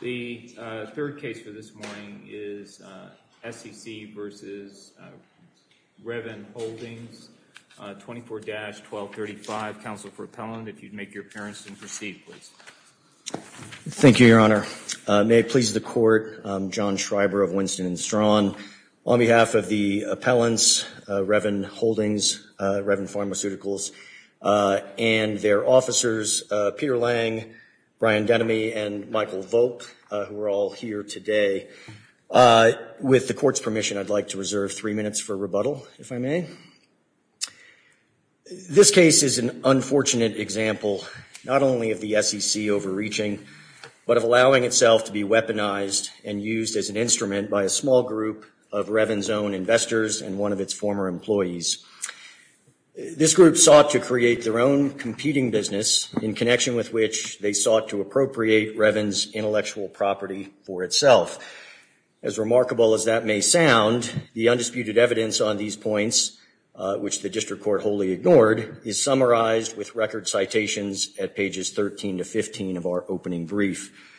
The third case for this morning is SEC v. Reven Holdings, 24-1235. Counsel for Appellant, if you'd make your appearance and proceed, please. Thank you, Your Honor. May it please the Court, I'm John Schreiber of Winston & Strawn. On behalf of the appellants, Reven Holdings, Reven Pharmaceuticals, and their officers, Peter Lang, Brian Dennemy, and Michael Volk, who are all here today. With the Court's permission, I'd like to reserve three minutes for rebuttal, if I may. This case is an unfortunate example, not only of the SEC overreaching, but of allowing itself to be weaponized and used as an instrument by a small group of Reven's own investors and one of its former employees. This group sought to create their own competing business, in connection with which they sought to appropriate Reven's intellectual property for itself. As remarkable as that may sound, the undisputed evidence on these points, which the District Court wholly ignored, is summarized with record citations at pages 13 to 15 of our opening brief.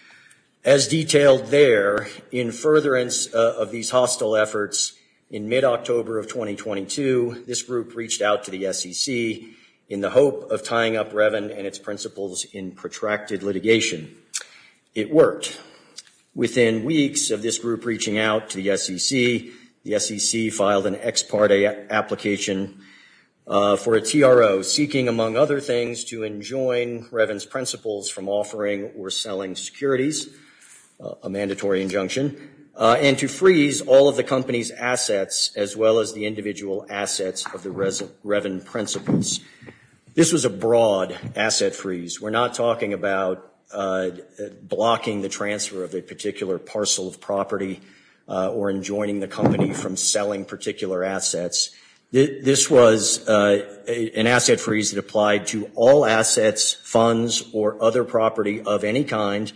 As detailed there, in furtherance of these hostile efforts, in mid-October of 2022, this group reached out to the SEC in the hope of tying up Reven and its principals in protracted litigation. It worked. Within weeks of this group reaching out to the SEC, the SEC filed an ex parte application for a TRO, seeking, among other things, to enjoin Reven's principals from offering or selling securities, a mandatory injunction, and to freeze all of the company's assets, as well as the individual assets of the Reven principals. This was a broad asset freeze. We're not talking about blocking the transfer of a particular parcel of property or enjoining the company from selling particular assets. This was an asset freeze that applied to all assets, funds, or other property of any kind,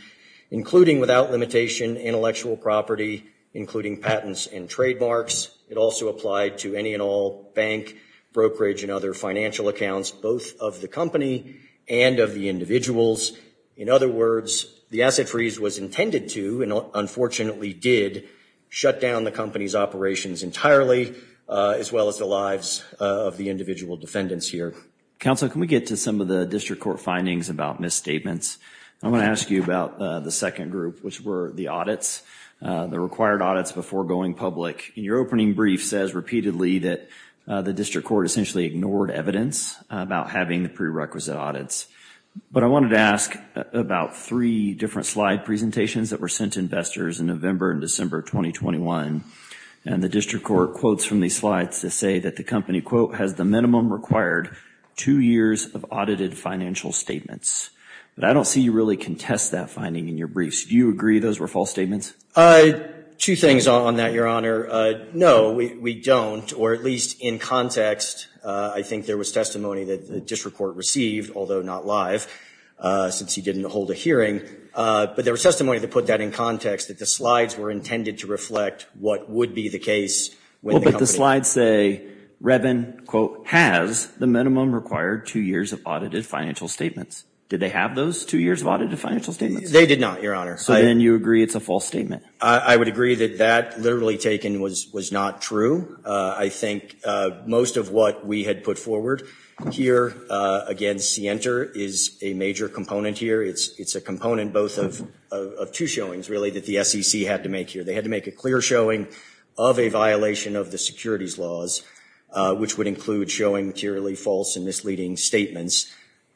including, without limitation, intellectual property, including patents and trademarks. It also applied to any and all bank, brokerage, and other financial accounts, both of the company and of the individuals. In other words, the asset freeze was intended to, and unfortunately did, shut down the company's operations entirely, as well as the lives of the individual defendants here. Counsel, can we get to some of the district court findings about misstatements? I'm going to ask you about the second group, which were the audits, the required audits before going public. Your opening brief says repeatedly that the district court essentially ignored evidence about having the prerequisite audits. But I wanted to ask about three different slide presentations that were sent to investors in November and December 2021, and the district court quotes from these slides to say that the company, quote, has the minimum required two years of audited financial statements. But I don't see you really contest that finding in your briefs. Do you agree those were false statements? Two things on that, Your Honor. No, we don't, or at least in context, I think there was testimony that the district court received, although not live, since he didn't hold a hearing. But there was testimony that put that in context, that the slides were intended to reflect what would be the case. Well, but the slides say, Revin, quote, has the minimum required two years of audited financial statements. Did they have those two years of audited financial statements? They did not, Your Honor. So then you agree it's a false statement? I would agree that that literally taken was not true. I think most of what we had put forward here against Sienter is a major component here. It's a component both of two showings, really, that the SEC had to make here. They had to make a clear showing of a violation of the securities laws, which would include showing clearly false and misleading statements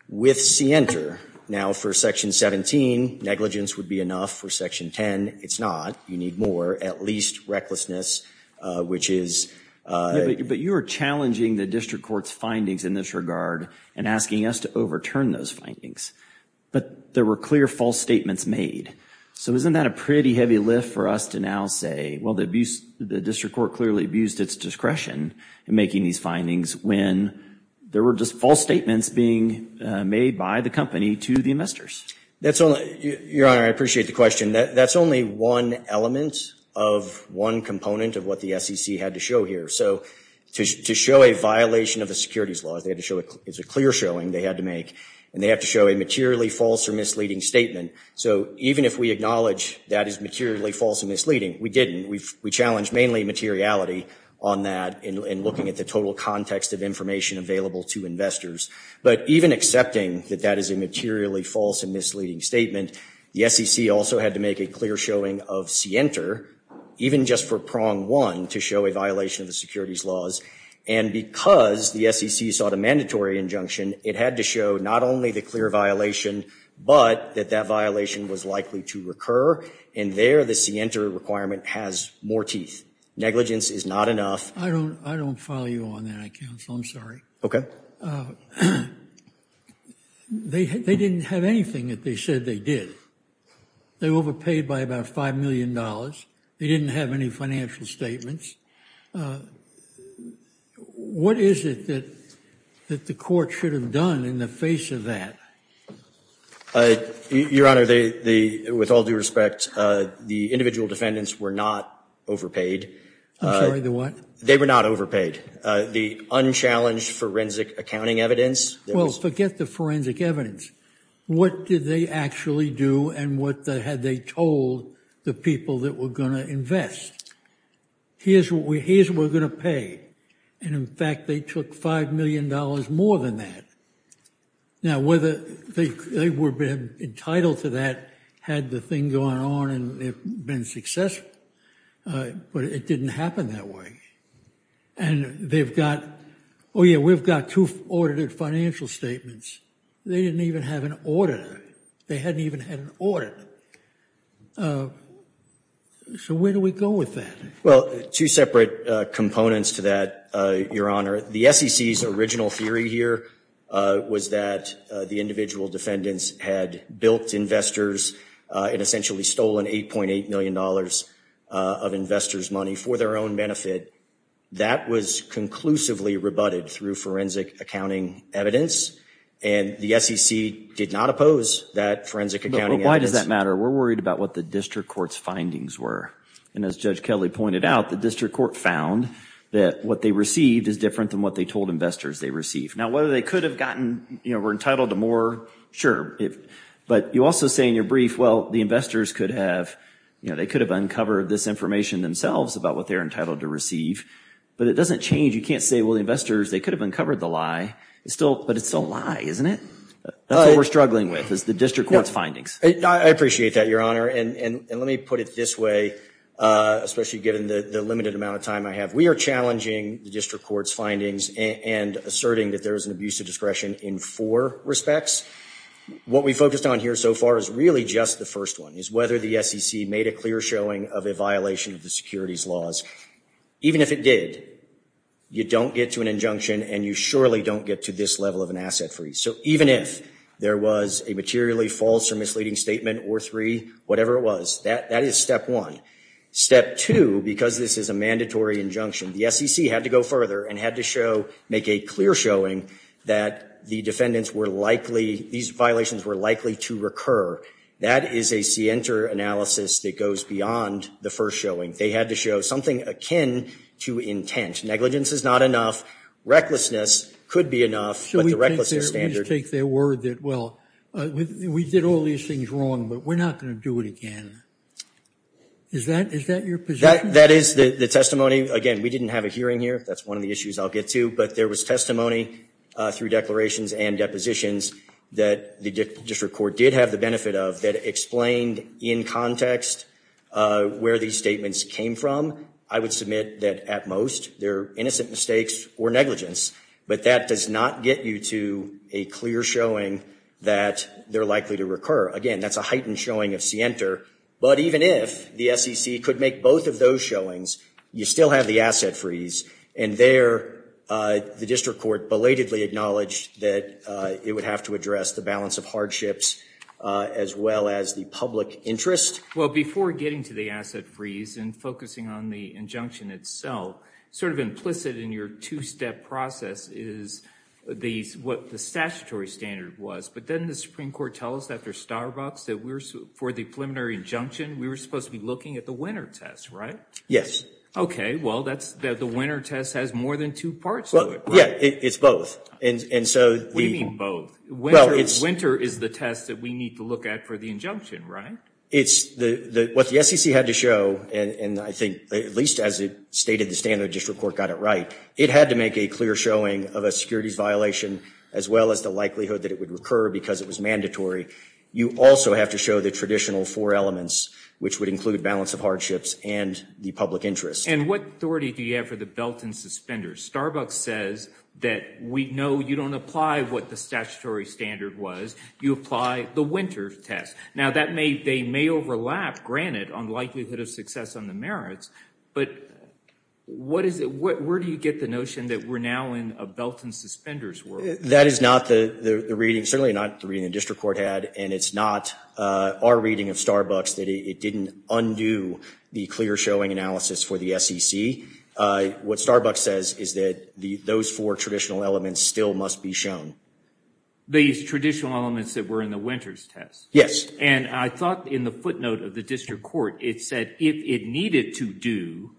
with Sienter. Now, for Section 17, negligence would be enough. For Section 10, it's not. You need more, at least recklessness, which is— But you are challenging the district court's findings in this regard and asking us to overturn those findings. But there were clear false statements made. So isn't that a pretty heavy lift for us to now say, well, the district court clearly abused its discretion in making these findings when there were just false statements being made by the company to the investors? Your Honor, I appreciate the question. That's only one element of one component of what the SEC had to show here. So to show a violation of the securities laws, it's a clear showing they had to make, and they have to show a materially false or misleading statement. So even if we acknowledge that is materially false and misleading, we didn't. We challenged mainly materiality on that in looking at the total context of information available to investors. But even accepting that that is a materially false and misleading statement, the SEC also had to make a clear showing of scienter, even just for prong one, to show a violation of the securities laws. And because the SEC sought a mandatory injunction, it had to show not only the clear violation, but that that violation was likely to recur. And there, the scienter requirement has more teeth. Negligence is not enough. I don't follow you on that, counsel. I'm sorry. Okay. They didn't have anything that they said they did. They were overpaid by about $5 million. They didn't have any financial statements. What is it that the court should have done in the face of that? Your Honor, with all due respect, the individual defendants were not overpaid. I'm sorry, the what? They were not overpaid. The unchallenged forensic accounting evidence. Well, forget the forensic evidence. What did they actually do and what had they told the people that were going to invest? Here's what we're going to pay. And, in fact, they took $5 million more than that. Now, whether they were entitled to that had the thing gone on and been successful. But it didn't happen that way. And they've got, oh, yeah, we've got two audited financial statements. They didn't even have an auditor. They hadn't even had an auditor. So where do we go with that? Well, two separate components to that, Your Honor. The SEC's original theory here was that the individual defendants had built investors and essentially stolen $8.8 million of investors' money for their own benefit. That was conclusively rebutted through forensic accounting evidence. And the SEC did not oppose that forensic accounting evidence. But why does that matter? We're worried about what the district court's findings were. And as Judge Kelly pointed out, the district court found that what they received is different than what they told investors they received. Now, whether they could have gotten, you know, were entitled to more, sure. But you also say in your brief, well, the investors could have, you know, they could have uncovered this information themselves about what they're entitled to receive. But it doesn't change. You can't say, well, the investors, they could have uncovered the lie. But it's still a lie, isn't it? That's what we're struggling with is the district court's findings. I appreciate that, Your Honor. And let me put it this way, especially given the limited amount of time I have. We are challenging the district court's findings and asserting that there is an abuse of discretion in four respects. What we focused on here so far is really just the first one, is whether the SEC made a clear showing of a violation of the securities laws. Even if it did, you don't get to an injunction and you surely don't get to this level of an asset freeze. So even if there was a materially false or misleading statement or three, whatever it was, that is step one. Step two, because this is a mandatory injunction, the SEC had to go further and had to show, make a clear showing that the defendants were likely, these violations were likely to recur. That is a scienter analysis that goes beyond the first showing. They had to show something akin to intent. Negligence is not enough. Recklessness could be enough, but the recklessness standard. Let me just take their word that, well, we did all these things wrong, but we're not going to do it again. Is that your position? That is the testimony. Again, we didn't have a hearing here. That's one of the issues I'll get to. But there was testimony through declarations and depositions that the district court did have the benefit of, that explained in context where these statements came from. I would submit that at most they're innocent mistakes or negligence. But that does not get you to a clear showing that they're likely to recur. Again, that's a heightened showing of scienter. But even if the SEC could make both of those showings, you still have the asset freeze. And there the district court belatedly acknowledged that it would have to address the balance of hardships as well as the public interest. Well, before getting to the asset freeze and focusing on the injunction itself, sort of implicit in your two-step process is what the statutory standard was. But didn't the Supreme Court tell us after Starbucks that for the preliminary injunction we were supposed to be looking at the winter test, right? Yes. Okay, well, the winter test has more than two parts to it. Yeah, it's both. What do you mean both? Winter is the test that we need to look at for the injunction, right? It's what the SEC had to show, and I think at least as it stated, the standard district court got it right. It had to make a clear showing of a securities violation as well as the likelihood that it would recur because it was mandatory. You also have to show the traditional four elements, which would include balance of hardships and the public interest. And what authority do you have for the belt and suspenders? Starbucks says that, no, you don't apply what the statutory standard was. You apply the winter test. Now, they may overlap, granted, on the likelihood of success on the merits. But where do you get the notion that we're now in a belt and suspenders world? That is not the reading, certainly not the reading the district court had, and it's not our reading of Starbucks that it didn't undo the clear showing analysis for the SEC. What Starbucks says is that those four traditional elements still must be shown. These traditional elements that were in the winter's test? And I thought in the footnote of the district court, it said if it needed to do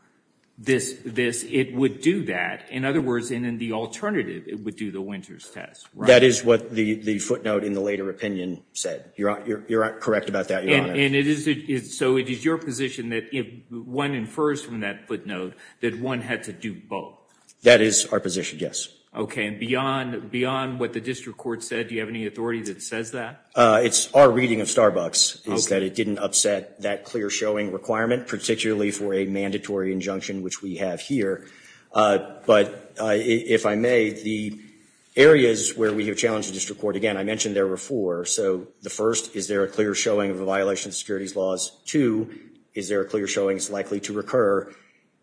this, it would do that. In other words, in the alternative, it would do the winter's test, right? That is what the footnote in the later opinion said. You're correct about that, Your Honor. And so it is your position that if one infers from that footnote, that one had to do both? That is our position, yes. Okay. And beyond what the district court said, do you have any authority that says that? It's our reading of Starbucks is that it didn't upset that clear showing requirement, particularly for a mandatory injunction, which we have here. But if I may, the areas where we have challenged the district court, again, I mentioned there were four. So the first, is there a clear showing of a violation of securities laws? Two, is there a clear showing it's likely to recur?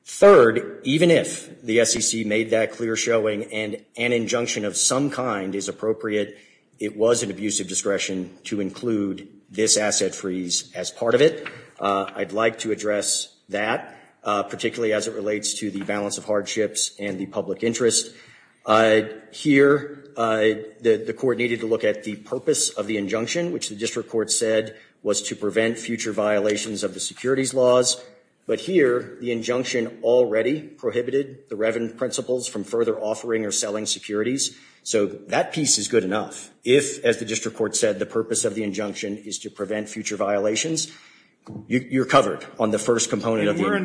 Third, even if the SEC made that clear showing and an injunction of some kind is appropriate, it was an abuse of discretion to include this asset freeze as part of it. I'd like to address that, particularly as it relates to the balance of hardships and the public interest. Here, the court needed to look at the purpose of the injunction, which the district court said was to prevent future violations of the securities laws. But here, the injunction already prohibited the Revin principles from further offering or selling securities. So that piece is good enough. If, as the district court said, the purpose of the injunction is to prevent future violations, you're covered on the first component of the injunction.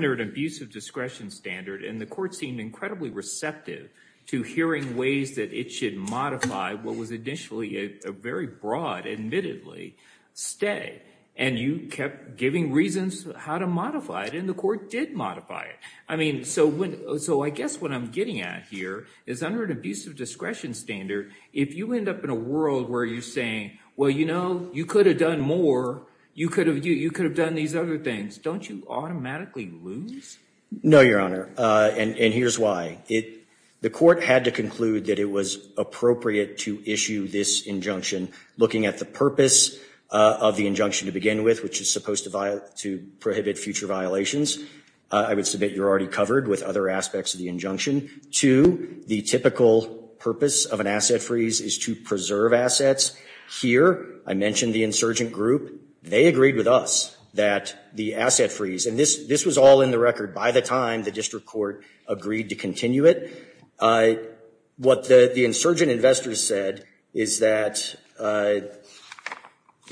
And the court seemed incredibly receptive to hearing ways that it should modify what was initially a very broad, admittedly, stay. And you kept giving reasons how to modify it, and the court did modify it. I mean, so I guess what I'm getting at here is under an abuse of discretion standard, if you end up in a world where you're saying, well, you know, you could have done more, you could have done these other things, don't you automatically lose? No, Your Honor, and here's why. The court had to conclude that it was appropriate to issue this injunction, looking at the purpose of the injunction to begin with, which is supposed to prohibit future violations. I would submit you're already covered with other aspects of the injunction. Two, the typical purpose of an asset freeze is to preserve assets. Here, I mentioned the insurgent group. They agreed with us that the asset freeze, and this was all in the record by the time the district court agreed to continue it. What the insurgent investors said is that, to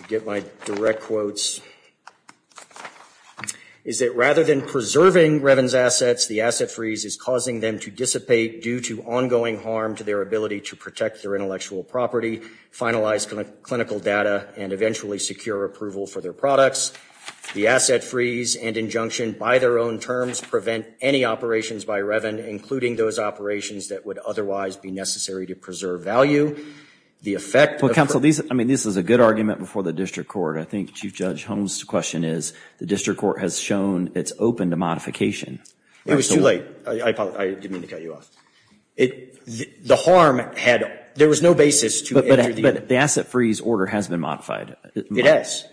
get my direct quotes, is that rather than preserving Revin's assets, the asset freeze is causing them to dissipate due to ongoing harm to their ability to protect their intellectual property, finalize clinical data, and eventually secure approval for their products. The asset freeze and injunction, by their own terms, prevent any operations by Revin, including those operations that would otherwise be necessary to preserve value. Well, counsel, this is a good argument before the district court. I think Chief Judge Holmes' question is, the district court has shown it's open to modification. It was too late. I didn't mean to cut you off. The harm had, there was no basis to enter the- But the asset freeze order has been modified. It has.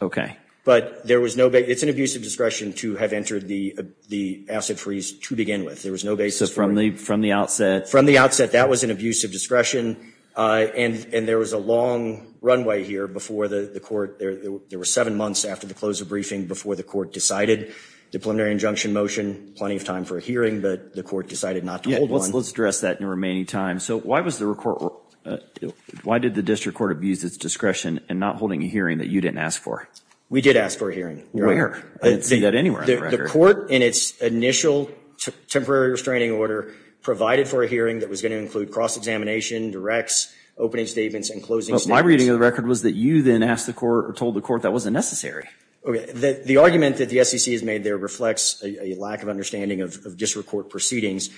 But there was no, it's an abuse of discretion to have entered the asset freeze to begin with. There was no basis for- So from the outset- From the outset, that was an abuse of discretion, and there was a long runway here before the court, there were seven months after the close of briefing before the court decided. The preliminary injunction motion, plenty of time for a hearing, but the court decided not to hold one. Let's address that in the remaining time. So why did the district court abuse its discretion in not holding a hearing that you didn't ask for? We did ask for a hearing. Where? I didn't see that anywhere on the record. The court, in its initial temporary restraining order, provided for a hearing that was going to include cross-examination, directs, opening statements, and closing statements. My reading of the record was that you then asked the court, or told the court, that wasn't necessary. The argument that the SEC has made there reflects a lack of understanding of district court proceedings.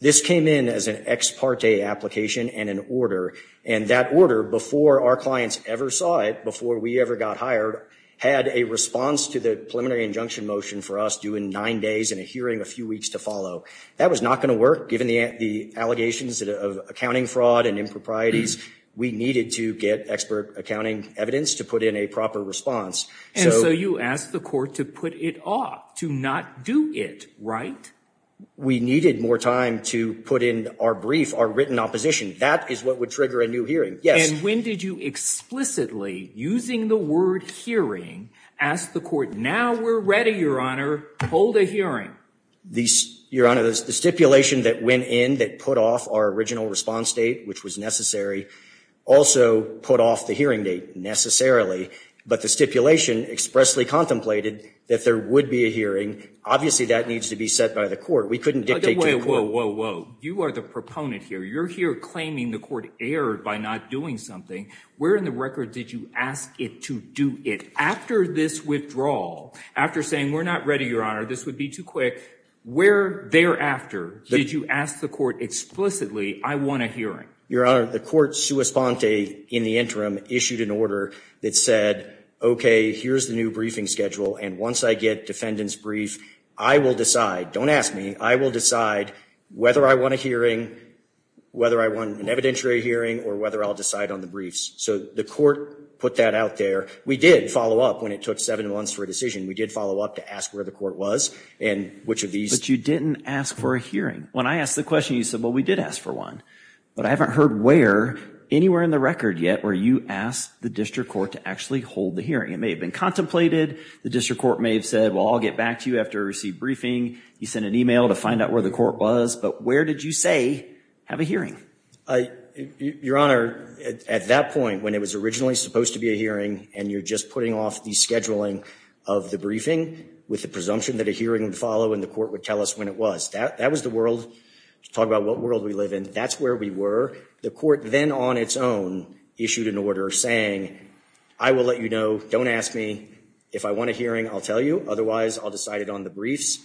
This came in as an ex parte application and an order, and that order, before our clients ever saw it, before we ever got hired, had a response to the preliminary injunction motion for us due in nine days and a hearing a few weeks to follow. That was not going to work, given the allegations of accounting fraud and improprieties. We needed to get expert accounting evidence to put in a proper response. And so you asked the court to put it off, to not do it, right? We needed more time to put in our brief, our written opposition. That is what would trigger a new hearing, yes. And when did you explicitly, using the word hearing, ask the court, now we're ready, Your Honor, hold a hearing? Your Honor, the stipulation that went in that put off our original response date, which was necessary, also put off the hearing date, necessarily. But the stipulation expressly contemplated that there would be a hearing. Obviously, that needs to be set by the court. We couldn't dictate to the court. Whoa, whoa, whoa. You are the proponent here. You're here claiming the court erred by not doing something. Where in the record did you ask it to do it? After this withdrawal, after saying we're not ready, Your Honor, this would be too quick, where thereafter did you ask the court explicitly, I want a hearing? Your Honor, the court sua sponte in the interim issued an order that said, okay, here's the new briefing schedule. And once I get defendant's brief, I will decide, don't ask me, I will decide whether I want a hearing, whether I want an evidentiary hearing, or whether I'll decide on the briefs. So the court put that out there. We did follow up when it took seven months for a decision. We did follow up to ask where the court was and which of these. But you didn't ask for a hearing. When I asked the question, you said, well, we did ask for one. But I haven't heard where anywhere in the record yet where you asked the district court to actually hold the hearing. It may have been contemplated. The district court may have said, well, I'll get back to you after I receive briefing. You sent an email to find out where the court was. But where did you say, have a hearing? Your Honor, at that point when it was originally supposed to be a hearing and you're just putting off the scheduling of the briefing with the presumption that a hearing would follow and the court would tell us when it was, that was the world. To talk about what world we live in, that's where we were. The court then on its own issued an order saying, I will let you know, don't ask me. If I want a hearing, I'll tell you. Otherwise, I'll decide it on the briefs.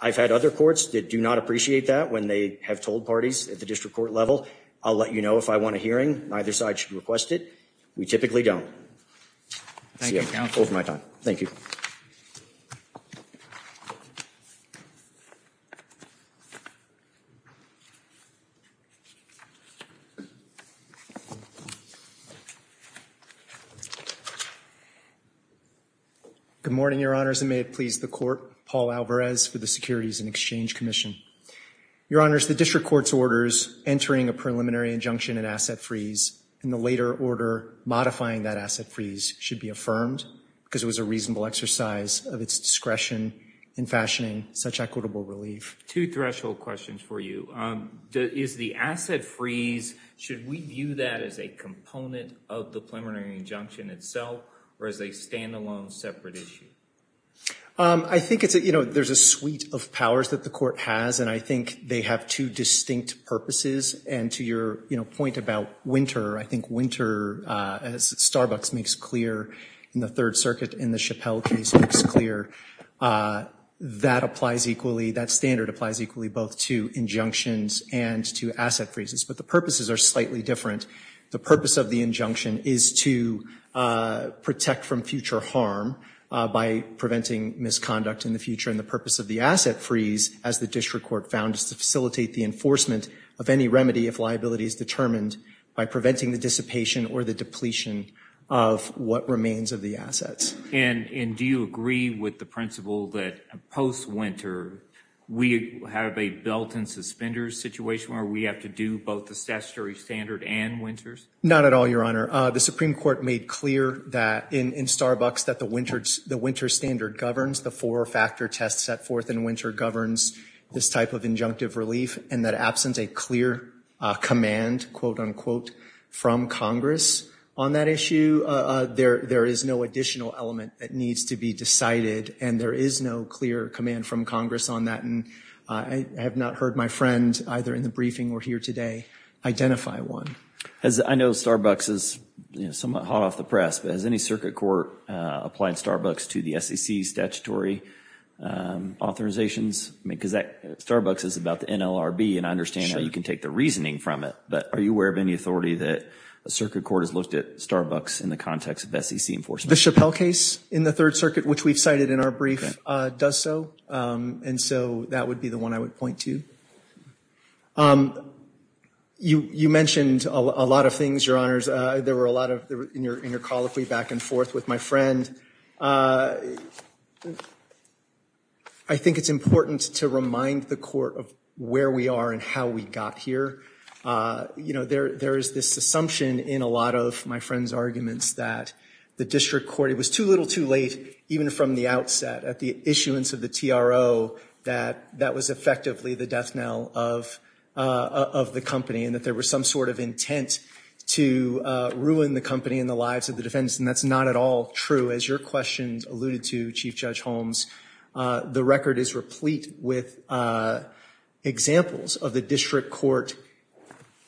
I've had other courts that do not appreciate that when they have told parties at the district court level, I'll let you know if I want a hearing. Neither side should request it. We typically don't. Over my time. Thank you. Good morning, Your Honors. And may it please the court, Paul Alvarez for the Securities and Exchange Commission. Your Honors, the district court's orders entering a preliminary injunction and asset freeze and the later order modifying that asset freeze should be affirmed because it was a reasonable exercise of its discretion in fashioning such equitable relief. Two threshold questions for you. Is the asset freeze, should we view that as a component of the preliminary injunction itself or as a standalone separate issue? I think it's, you know, there's a suite of powers that the court has and I think they have two distinct purposes. And to your, you know, point about winter, I think winter as Starbucks makes clear in the Third Circuit in the Chappelle case makes clear, that applies equally, that standard applies equally both to injunctions and to asset freezes. But the purposes are slightly different. The purpose of the injunction is to protect from future harm by preventing misconduct in the future. And the purpose of the asset freeze, as the district court found, is to facilitate the enforcement of any remedy if liability is determined by preventing the dissipation or the depletion of what remains of the assets. And do you agree with the principle that post winter, we have a belt and suspenders situation where we have to do both the statutory standard and winters? Not at all, Your Honor. The Supreme Court made clear that in Starbucks that the winter standard governs the four factor test set forth and winter governs this type of injunctive relief and that absent a clear command, quote unquote, from Congress on that issue, there is no additional element that needs to be decided and there is no clear command from Congress on that. And I have not heard my friend, either in the briefing or here today, identify one. I know Starbucks is somewhat hot off the press, but has any circuit court applied Starbucks to the SEC statutory authorizations? Because Starbucks is about the NLRB and I understand how you can take the reasoning from it. But are you aware of any authority that a circuit court has looked at Starbucks in the context of SEC enforcement? The Chappelle case in the Third Circuit, which we've cited in our brief, does so. And so that would be the one I would point to. You mentioned a lot of things, Your Honors. There were a lot in your colloquy back and forth with my friend. I think it's important to remind the court of where we are and how we got here. You know, there is this assumption in a lot of my friend's arguments that the district court, it was too little too late even from the outset at the issuance of the TRO that that was effectively the death knell of the company and that there was some sort of intent to ruin the company and the lives of the defendants. And that's not at all true. As your question alluded to, Chief Judge Holmes, the record is replete with examples of the district court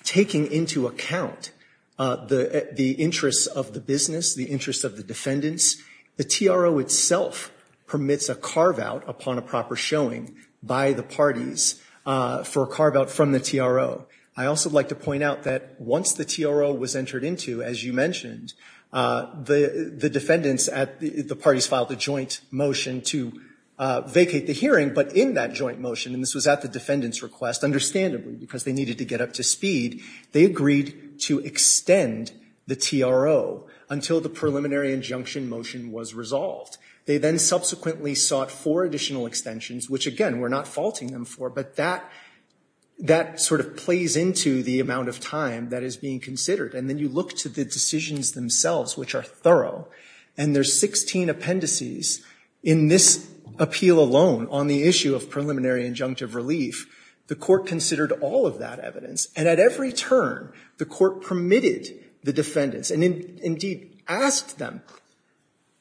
taking into account the interests of the business, the interests of the defendants. The TRO itself permits a carve-out upon a proper showing by the parties for a carve-out from the TRO. I also would like to point out that once the TRO was entered into, as you mentioned, the defendants at the parties filed a joint motion to vacate the hearing. But in that joint motion, and this was at the defendant's request, understandably because they needed to get up to speed, they agreed to extend the TRO until the preliminary injunction motion was resolved. They then subsequently sought four additional extensions, which, again, we're not faulting them for, but that sort of plays into the amount of time that is being considered. And then you look to the decisions themselves, which are thorough, and there's 16 appendices in this appeal alone on the issue of preliminary injunctive relief. The court considered all of that evidence. And at every turn, the court permitted the defendants, and indeed asked them,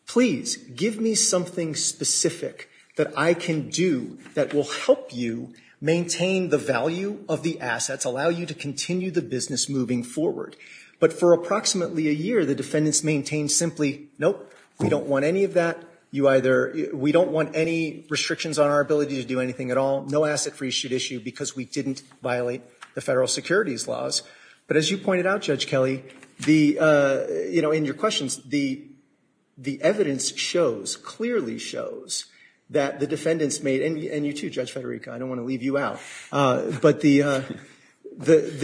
please give me something specific that I can do that will help you maintain the value of the assets, allow you to continue the business moving forward. But for approximately a year, the defendants maintained simply, nope, we don't want any of that, you either we don't want any restrictions on our ability to do anything at all, no asset freeze should issue because we didn't violate the federal securities laws. But as you pointed out, Judge Kelly, in your questions, the evidence shows, clearly shows that the defendants made, and you too, Judge Federica, I don't want to leave you out, but the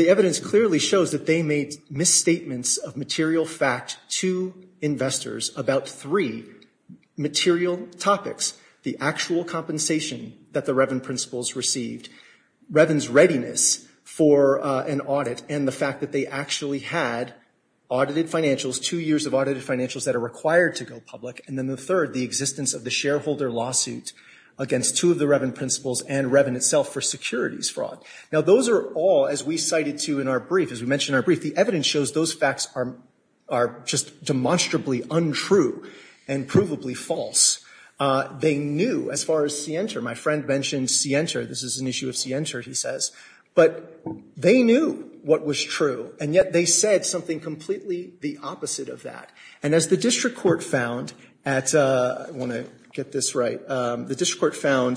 evidence clearly shows that they made misstatements of material fact to investors about three material topics, the actual compensation that the Revin principles received, Revin's readiness for an audit, and the fact that they actually had audited financials, two years of audited financials that are required to go public, and then the third, the existence of the shareholder lawsuit against two of the Revin principles and Revin itself for securities fraud. Now those are all, as we cited too in our brief, as we mentioned in our brief, the evidence shows those facts are just demonstrably untrue and provably false. They knew, as far as Sienta, my friend mentioned Sienta, this is an issue of Sienta, he says, but they knew what was true, and yet they said something completely the opposite of that. And as the district court found at, I want to get this right, the district court I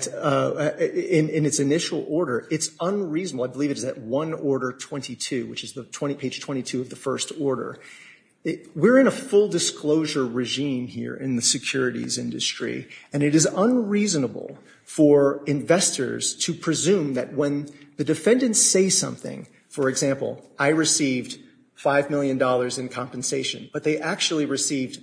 believe it is at one order 22, which is page 22 of the first order. We're in a full disclosure regime here in the securities industry, and it is unreasonable for investors to presume that when the defendants say something, for example, I received $5 million in compensation, but they actually received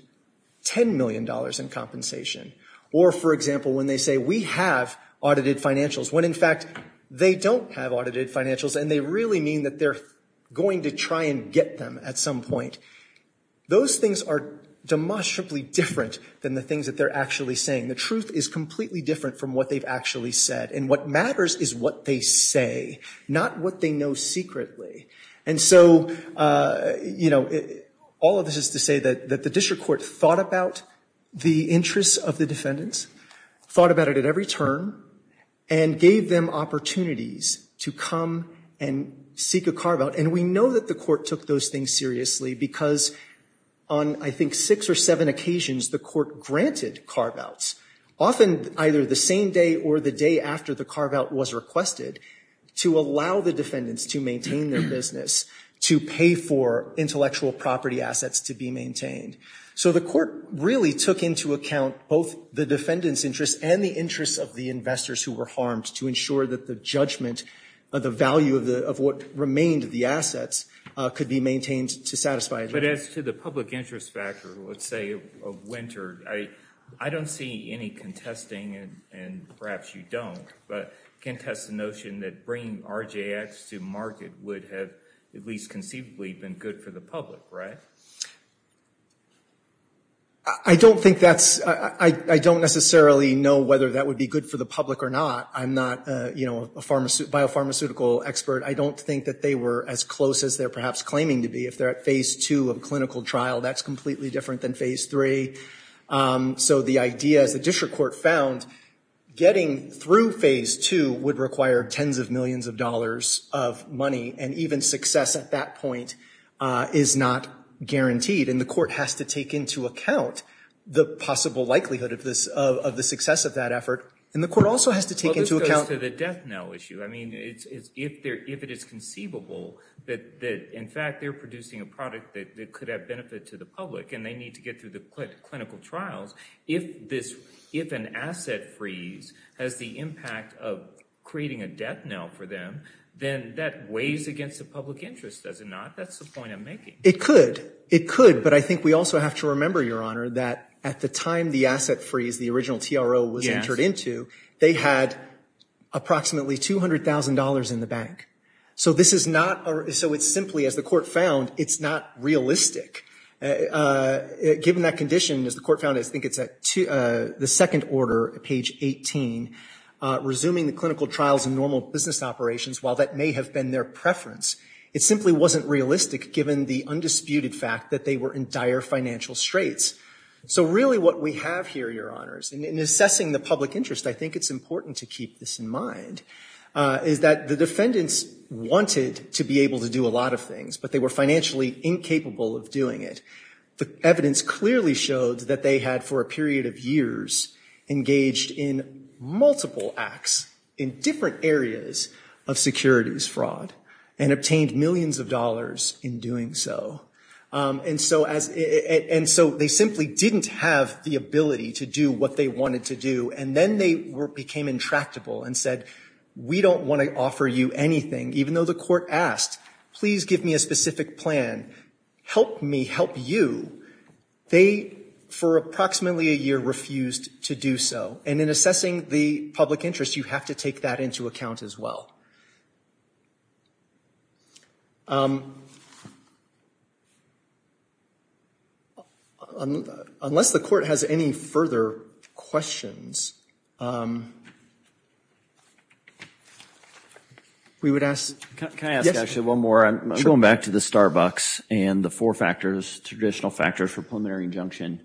$10 million in compensation, or, for example, when they say we have audited financials, when in fact they don't have audited financials and they really mean that they're going to try and get them at some point. Those things are demonstrably different than the things that they're actually saying. The truth is completely different from what they've actually said, and what matters is what they say, not what they know secretly. And so, you know, all of this is to say that the district court thought about the interests of the defendants, thought about it at every turn, and gave them opportunities to come and seek a carve-out, and we know that the court took those things seriously because on I think six or seven occasions the court granted carve-outs, often either the same day or the day after the carve-out was requested, to allow the defendants to maintain their business, to pay for intellectual property assets to be maintained. So the court really took into account both the defendants' interests and the interests of the investors who were harmed to ensure that the judgment of the value of what remained the assets could be maintained to satisfy a judgment. But as to the public interest factor, let's say, of Winter, I don't see any contesting and perhaps you don't, but contest the notion that bringing RJX to market would have at least conceivably been good for the public, right? I don't think that's, I don't necessarily know whether that would be good for the public or not. I'm not, you know, a biopharmaceutical expert. I don't think that they were as close as they're perhaps claiming to be. If they're at phase two of clinical trial, that's completely different than phase three. So the idea, as the district court found, getting through phase two would require tens of millions of dollars of money, and even success at that point is not guaranteed. And the court has to take into account the possible likelihood of this, of the success of that effort. And the court also has to take into account- Well, this goes to the death knell issue. I mean, if it is conceivable that, in fact, they're producing a product that could have benefit to the public and they need to get through the clinical trials, if an asset freeze has the impact of creating a death knell for them, then that weighs against the public interest, does it not? That's the point I'm making. It could. It could. But I think we also have to remember, Your Honor, that at the time the asset freeze, the original TRO was entered into, they had approximately $200,000 in the bank. So this is not, so it's simply, as the court found, it's not realistic. Given that condition, as the court found, I think it's at the second order, page 18, resuming the clinical trials and normal business operations, while that may have been their preference, it simply wasn't realistic given the undisputed fact that they were in dire financial straits. So really what we have here, Your Honors, in assessing the public interest, I think it's important to keep this in mind, is that the defendants wanted to be able to do a lot of things, but they were financially incapable of doing it. The evidence clearly showed that they had, for a period of years, engaged in multiple acts in different areas of securities fraud and obtained millions of dollars in doing so. And so they simply didn't have the ability to do what they wanted to do. And then they became intractable and said, we don't want to offer you anything, even though the court asked, please give me a specific plan. Help me help you. They, for approximately a year, refused to do so. And in assessing the public interest, you have to take that into account as well. Unless the court has any further questions, we would ask – Can I ask actually one more? I'm going back to the Starbucks and the four factors, traditional factors for preliminary injunction.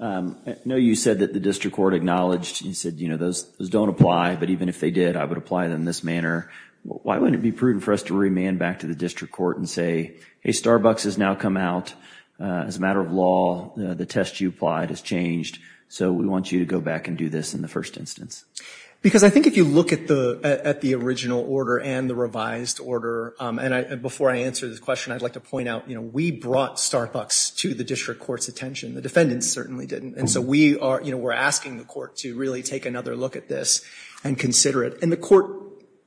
I know you said that the district court acknowledged, you said, you know, those don't apply, but even if they did, I would apply them in this manner. Why wouldn't it be prudent for us to remand back to the district court and say, hey, Starbucks has now come out. As a matter of law, the test you applied has changed. So we want you to go back and do this in the first instance. Because I think if you look at the original order and the revised order, and before I answer this question, I'd like to point out, you know, we brought Starbucks to the district court's attention. The defendants certainly didn't. And so we are, you know, we're asking the court to really take another look at this and consider it. And the court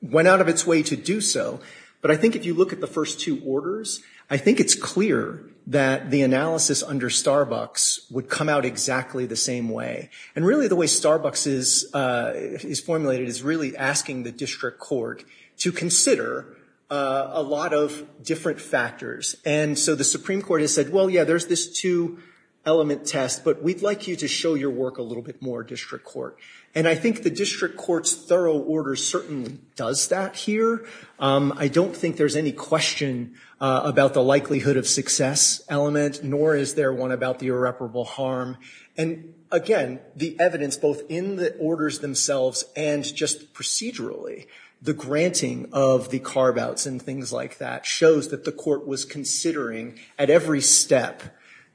went out of its way to do so. But I think if you look at the first two orders, I think it's clear that the analysis under Starbucks would come out exactly the same way. And really the way Starbucks is formulated is really asking the district court to consider a lot of different factors. And so the Supreme Court has said, well, yeah, there's this two-element test, but we'd like you to show your work a little bit more, district court. And I think the district court's thorough order certainly does that here. I don't think there's any question about the likelihood of success element, nor is there one about the irreparable harm. And, again, the evidence both in the orders themselves and just procedurally, the granting of the carve-outs and things like that, shows that the court was considering at every step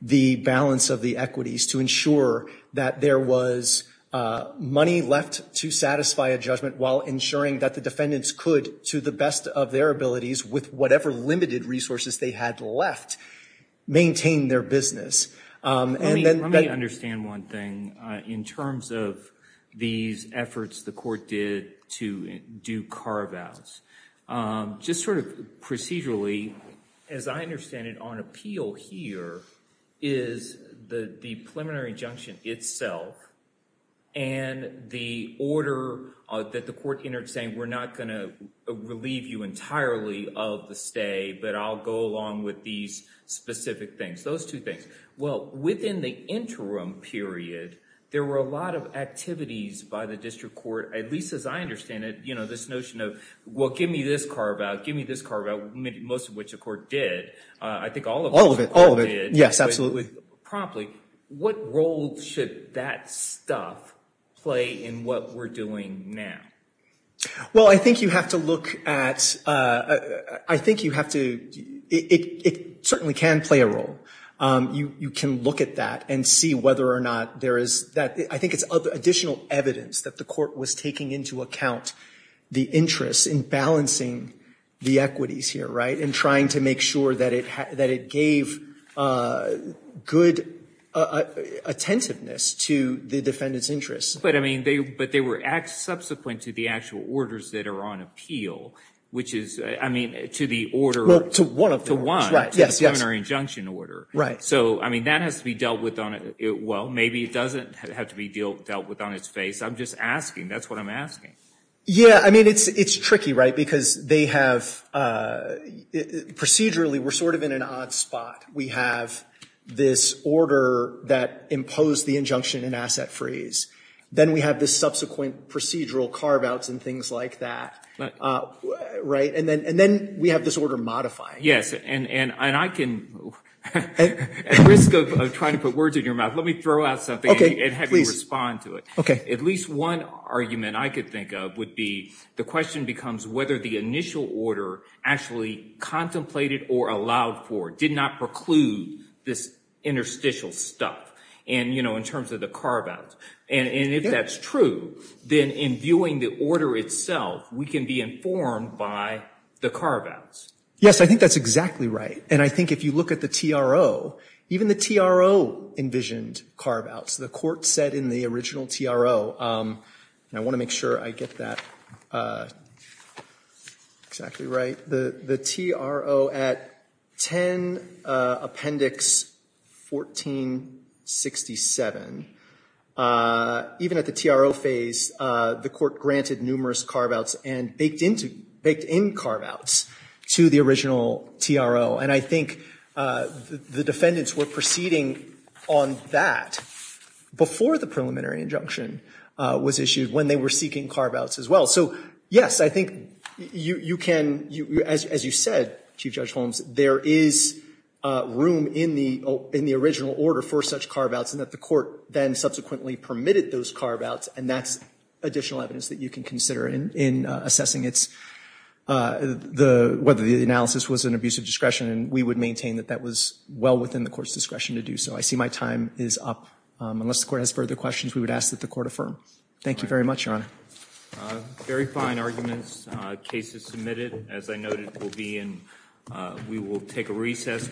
the balance of the equities to ensure that there was money left to satisfy a judgment while ensuring that the defendants could, to the best of their abilities, with whatever limited resources they had left, maintain their business. Let me understand one thing in terms of these efforts the court did to do carve-outs. Just sort of procedurally, as I understand it, on appeal here is the preliminary injunction itself and the order that the court entered saying we're not going to relieve you entirely of the stay, but I'll go along with these specific things. Those two things. Well, within the interim period, there were a lot of activities by the district court, at least as I understand it, you know, this notion of, well, give me this carve-out, give me this carve-out, most of which the court did. I think all of it. All of it. Yes, absolutely. But promptly, what role should that stuff play in what we're doing now? Well, I think you have to look at, I think you have to, it certainly can play a role. You can look at that and see whether or not there is, I think it's additional evidence that the court was taking into account the interest in balancing the equities here, right, and trying to make sure that it gave good attentiveness to the defendant's interests. But, I mean, but they were subsequent to the actual orders that are on appeal, which is, I mean, to the order. Well, to one of them. To one. Right, yes, yes. To the preliminary injunction order. Right. So, I mean, that has to be dealt with on, well, maybe it doesn't have to be dealt with on its face. I'm just asking. That's what I'm asking. Yeah, I mean, it's tricky, right, because they have, procedurally, we're sort of in an odd spot. We have this order that imposed the injunction in asset freeze. Then we have this subsequent procedural carve-outs and things like that, right, and then we have this order modifying. Yes, and I can, at risk of trying to put words in your mouth, let me throw out something and have you respond to it. At least one argument I could think of would be, the question becomes whether the initial order actually contemplated or allowed for, did not preclude this interstitial stuff, and, you know, in terms of the carve-outs, and if that's true, then in viewing the order itself, we can be informed by the carve-outs. Yes, I think that's exactly right, and I think if you look at the TRO, even the TRO envisioned carve-outs. The court said in the original TRO, and I want to make sure I get that exactly right, the TRO at 10 Appendix 1467, even at the TRO phase, the court granted numerous carve-outs and baked in carve-outs to the original TRO, and I think the defendants were proceeding on that before the preliminary injunction was issued when they were seeking carve-outs as well. So, yes, I think you can, as you said, Chief Judge Holmes, there is room in the original order for such carve-outs, and that the court then subsequently permitted those carve-outs, and that's additional evidence that you can consider in assessing its, whether the analysis was an abuse of discretion, and we would maintain that that was well within the court's discretion to do so. I see my time is up. Unless the court has further questions, we would ask that the court affirm. Thank you very much, Your Honor. Verifying arguments. Case is submitted. As I noted, we will take a recess.